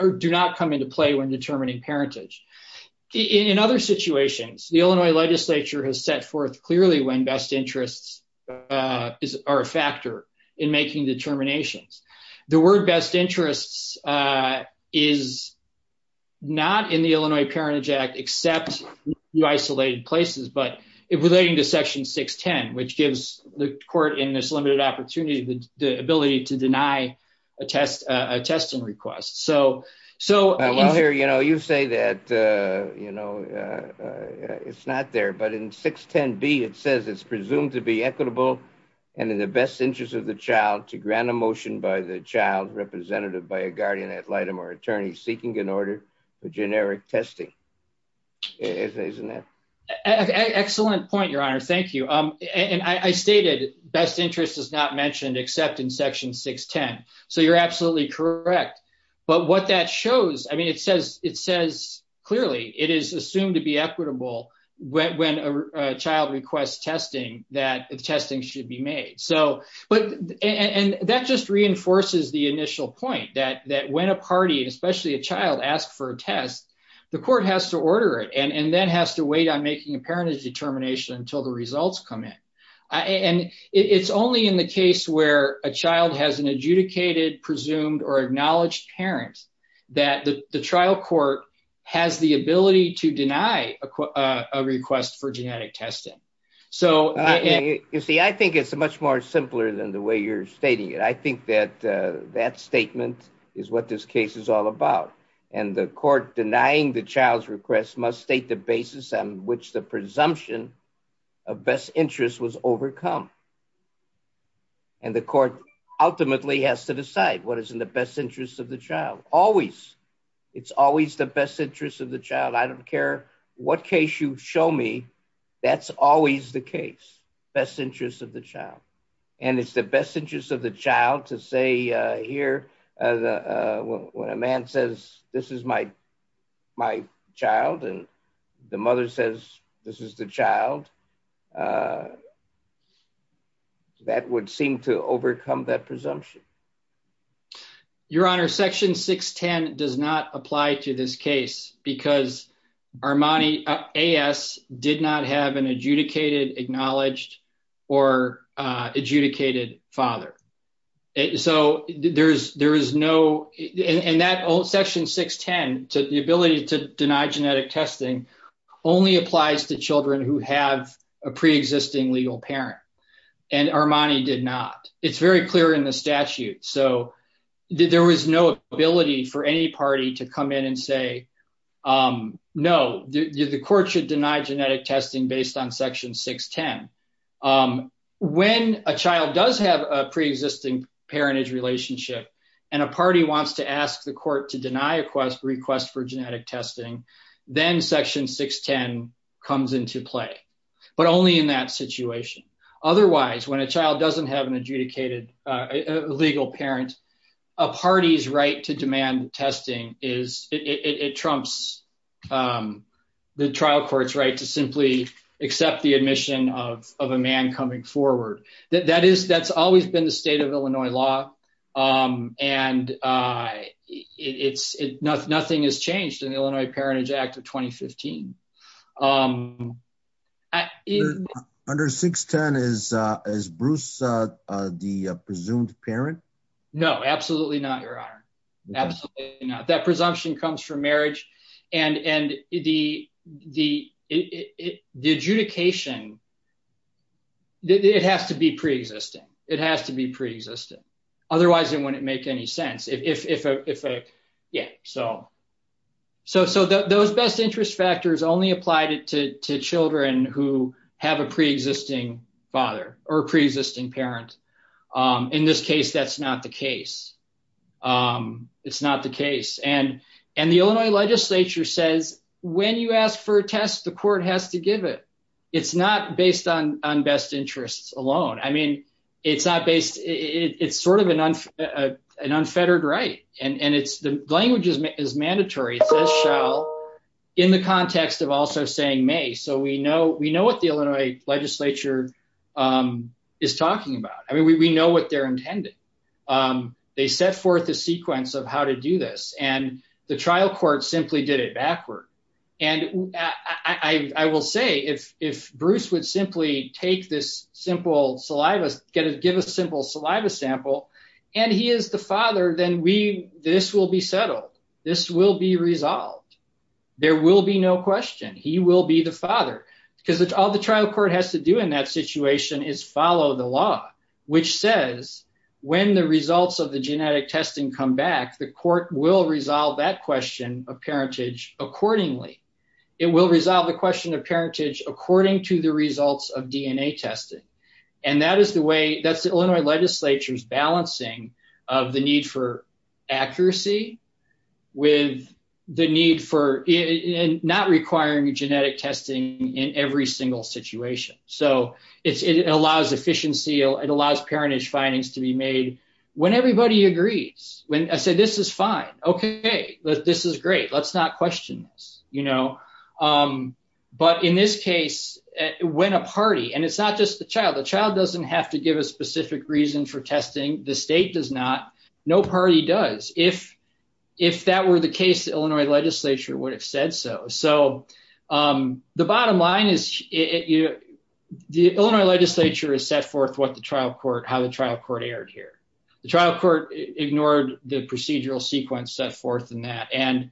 or do not come into play when determining parentage. In other situations, the Illinois legislature has set forth clearly when best interests are a factor in making determinations. The word best interests is not in the Illinois Parentage Act except the isolated places. But relating to Section 610, which gives the court in this limited opportunity the ability to deny a test, a testing request. So so here, you know, you say that, you know, it's not there. But in 610 B, it says it's presumed to be equitable and in the best interest of the child to grant a motion by the child representative by a guardian ad litem or attorney seeking an order for generic testing. Isn't that an excellent point, Your Honor? Thank you. And I stated best interest is not mentioned except in Section 610. So you're absolutely correct. But what that shows, I mean, it says it says clearly it is assumed to be equitable when a child requests testing that testing should be made. So but and that just reinforces the initial point that that when a party, especially a child asked for a test, the court has to order it and then has to wait on making a parentage determination until the results come in. And it's only in the case where a child has an adjudicated, presumed or acknowledged parent that the trial court has the ability to deny a request for genetic testing. So you see, I think it's much more simpler than the way you're stating it. I think that that statement is what this case is all about. And the court denying the child's request must state the basis on which the presumption of best interest was overcome. And the court ultimately has to decide what is in the best interest of the child. Always. It's always the best interest of the child. I don't care what case you show me. That's always the case. Best interest of the child. And it's the best interest of the child to say here when a man says this is my my child and the mother says this is the child. That would seem to overcome that presumption. Your Honor, Section 610 does not apply to this case because Armani A.S. did not have an adjudicated, acknowledged or adjudicated father. So there is there is no and that old Section 610 to the ability to deny genetic testing only applies to children who have a preexisting legal parent. And Armani did not. It's very clear in the statute. So there was no ability for any party to come in and say, no, the court should deny genetic testing based on Section 610. When a child does have a preexisting parentage relationship and a party wants to ask the court to deny a request for genetic testing, then Section 610 comes into play, but only in that situation. Otherwise, when a child doesn't have an adjudicated legal parent, a party's right to demand testing is it trumps the trial court's right to simply accept the admission of a man coming forward. That is that's always been the state of Illinois law. And it's nothing. Nothing has changed in the Illinois Parentage Act of 2015. Under 610 is is Bruce the presumed parent? No, absolutely not, Your Honor. Absolutely not. That presumption comes from marriage and the adjudication. It has to be pre-existing. It has to be pre-existing. Otherwise, it wouldn't make any sense if. Yeah, so. So those best interest factors only applied to children who have a pre-existing father or pre-existing parent. In this case, that's not the case. It's not the case. And and the Illinois legislature says when you ask for a test, the court has to give it. It's not based on on best interests alone. I mean, it's not based. It's sort of an unfettered right. And it's the language is mandatory. In the context of also saying may. So we know we know what the Illinois legislature is talking about. I mean, we know what they're intending. They set forth a sequence of how to do this. And the trial court simply did it backward. And I will say if if Bruce would simply take this simple saliva, get a give a simple saliva sample and he is the father, then we this will be settled. This will be resolved. There will be no question. He will be the father because all the trial court has to do in that situation is follow the law, which says when the results of the genetic testing come back, the court will resolve that question of parentage accordingly. It will resolve the question of parentage according to the results of DNA testing. And that is the way that's the Illinois legislature's balancing of the need for accuracy with the need for not requiring genetic testing in every single situation. So it allows efficiency. It allows parentage findings to be made when everybody agrees when I say this is fine. OK, this is great. Let's not question this, you know. But in this case, when a party and it's not just the child, the child doesn't have to give a specific reason for testing. The state does not. No party does. If if that were the case, the Illinois legislature would have said so. So the bottom line is the Illinois legislature is set forth what the trial court, how the trial court erred here. The trial court ignored the procedural sequence set forth in that. And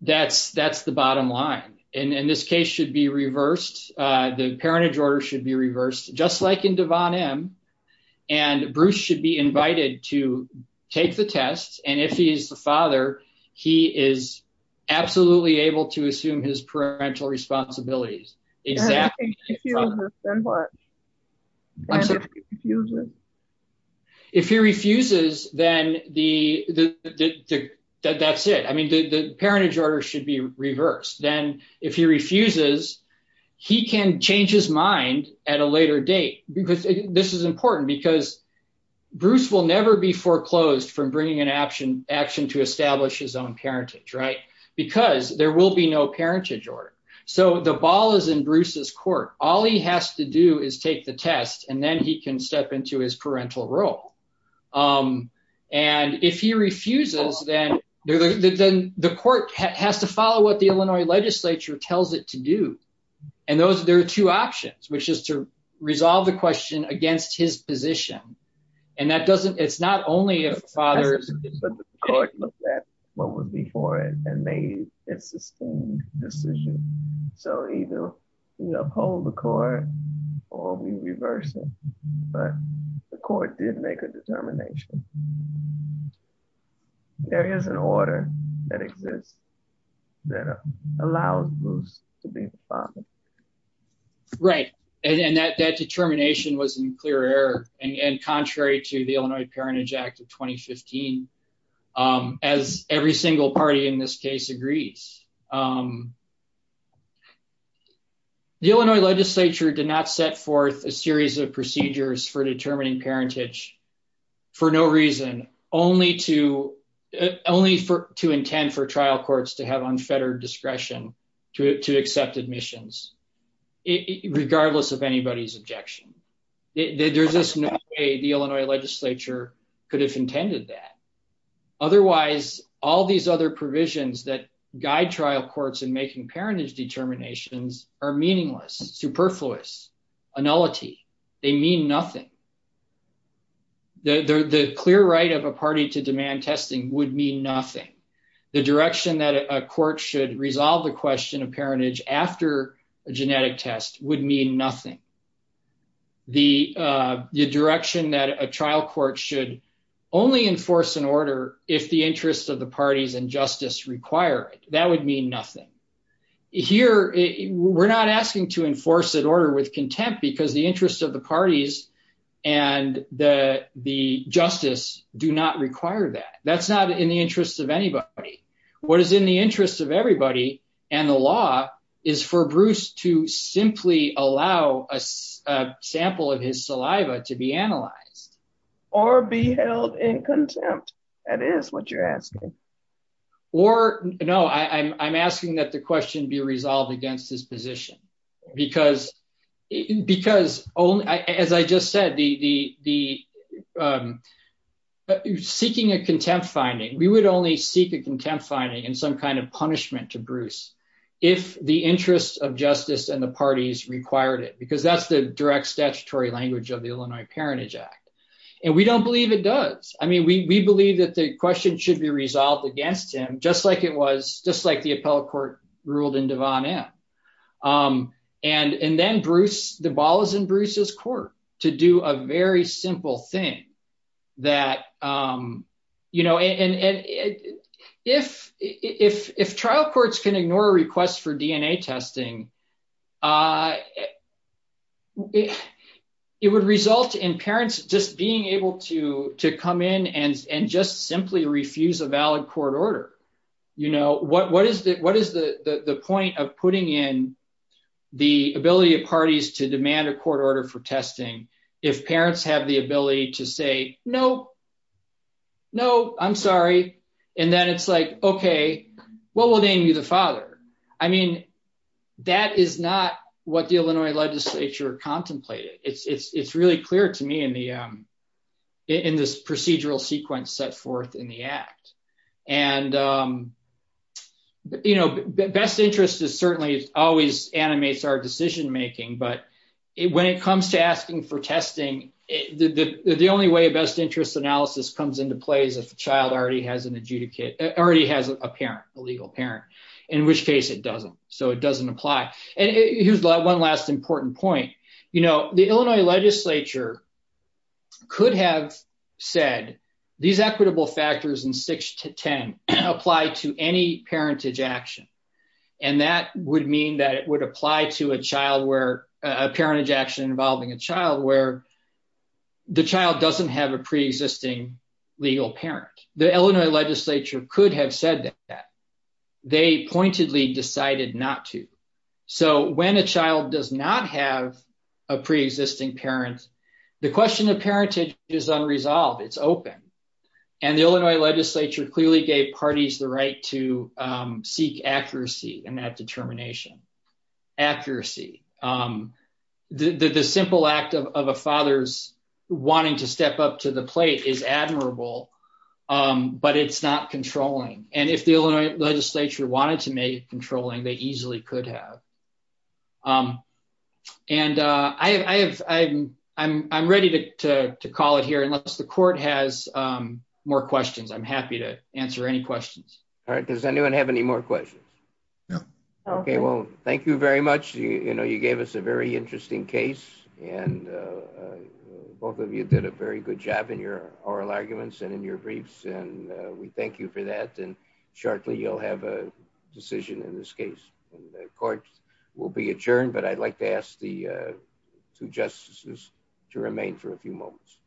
that's that's the bottom line. And in this case should be reversed. The parentage order should be reversed, just like in Devon M. And Bruce should be invited to take the test. And if he is the father, he is absolutely able to assume his parental responsibilities. If he refuses, then what? If he refuses, then that's it. I mean, the parentage order should be reversed. Then if he refuses, he can change his mind at a later date. Because this is important because Bruce will never be foreclosed from bringing an action action to establish his own parentage. Right, because there will be no parentage order. So the ball is in Bruce's court. All he has to do is take the test and then he can step into his parental role. And if he refuses, then the court has to follow what the Illinois legislature tells it to do. And those there are two options, which is to resolve the question against his position. And that doesn't it's not only a father. But the court looked at what would be for it and made its decision. So either you uphold the court or we reverse it. But the court did make a determination. There is an order that exists that allows Bruce to be the father. Right. And that determination was in clear error and contrary to the Illinois Parentage Act of 2015, as every single party in this case agrees. The Illinois legislature did not set forth a series of procedures for determining parentage for no reason, only to only to intend for trial courts to have unfettered discretion to accept admissions, regardless of anybody's objection. There's just no way the Illinois legislature could have intended that. Otherwise, all these other provisions that guide trial courts in making parentage determinations are meaningless, superfluous, annullity. They mean nothing. The clear right of a party to demand testing would mean nothing. The direction that a court should resolve the question of parentage after a genetic test would mean nothing. The direction that a trial court should only enforce an order if the interests of the parties and justice require it, that would mean nothing. Here, we're not asking to enforce that order with contempt because the interests of the parties and the justice do not require that. That's not in the interest of anybody. What is in the interest of everybody and the law is for Bruce to simply allow a sample of his saliva to be analyzed. Or be held in contempt. That is what you're asking. Or no, I'm asking that the question be resolved against his position because because, as I just said, the seeking a contempt finding, we would only seek a contempt finding and some kind of punishment to Bruce if the interests of justice and the parties required it, because that's the direct statutory language of the Illinois Parentage Act. And we don't believe it does. I mean, we believe that the question should be resolved against him, just like it was just like the appellate court ruled in Devon M. And then Bruce, the ball is in Bruce's court to do a very simple thing that, you know, and if if if trial courts can ignore requests for DNA testing, it would result in parents just being able to to come in and just simply refuse a valid court order. You know, what what is that? What is the point of putting in the ability of parties to demand a court order for testing? If parents have the ability to say no. No, I'm sorry. And then it's like, OK, what will name you the father? I mean, that is not what the Illinois legislature contemplated. It's really clear to me in the in this procedural sequence set forth in the act. And, you know, best interest is certainly always animates our decision making. But when it comes to asking for testing, the only way a best interest analysis comes into play is if the child already has an adjudicate, already has a parent, a legal parent, in which case it doesn't. So it doesn't apply. And here's one last important point. You know, the Illinois legislature. Could have said these equitable factors in six to ten apply to any parentage action. And that would mean that it would apply to a child where a parentage action involving a child where the child doesn't have a preexisting legal parent. The Illinois legislature could have said that they pointedly decided not to. So when a child does not have a preexisting parent, the question of parentage is unresolved. It's open. And the Illinois legislature clearly gave parties the right to seek accuracy in that determination. Accuracy. The simple act of a father's wanting to step up to the plate is admirable, but it's not controlling. And if the Illinois legislature wanted to make controlling, they easily could have. And I have I'm I'm ready to call it here unless the court has more questions. I'm happy to answer any questions. All right. Does anyone have any more questions? No. OK, well, thank you very much. You know, you gave us a very interesting case and both of you did a very good job in your oral arguments and in your briefs. And we thank you for that. And shortly, you'll have a decision in this case and the court will be adjourned. But I'd like to ask the two justices to remain for a few moments.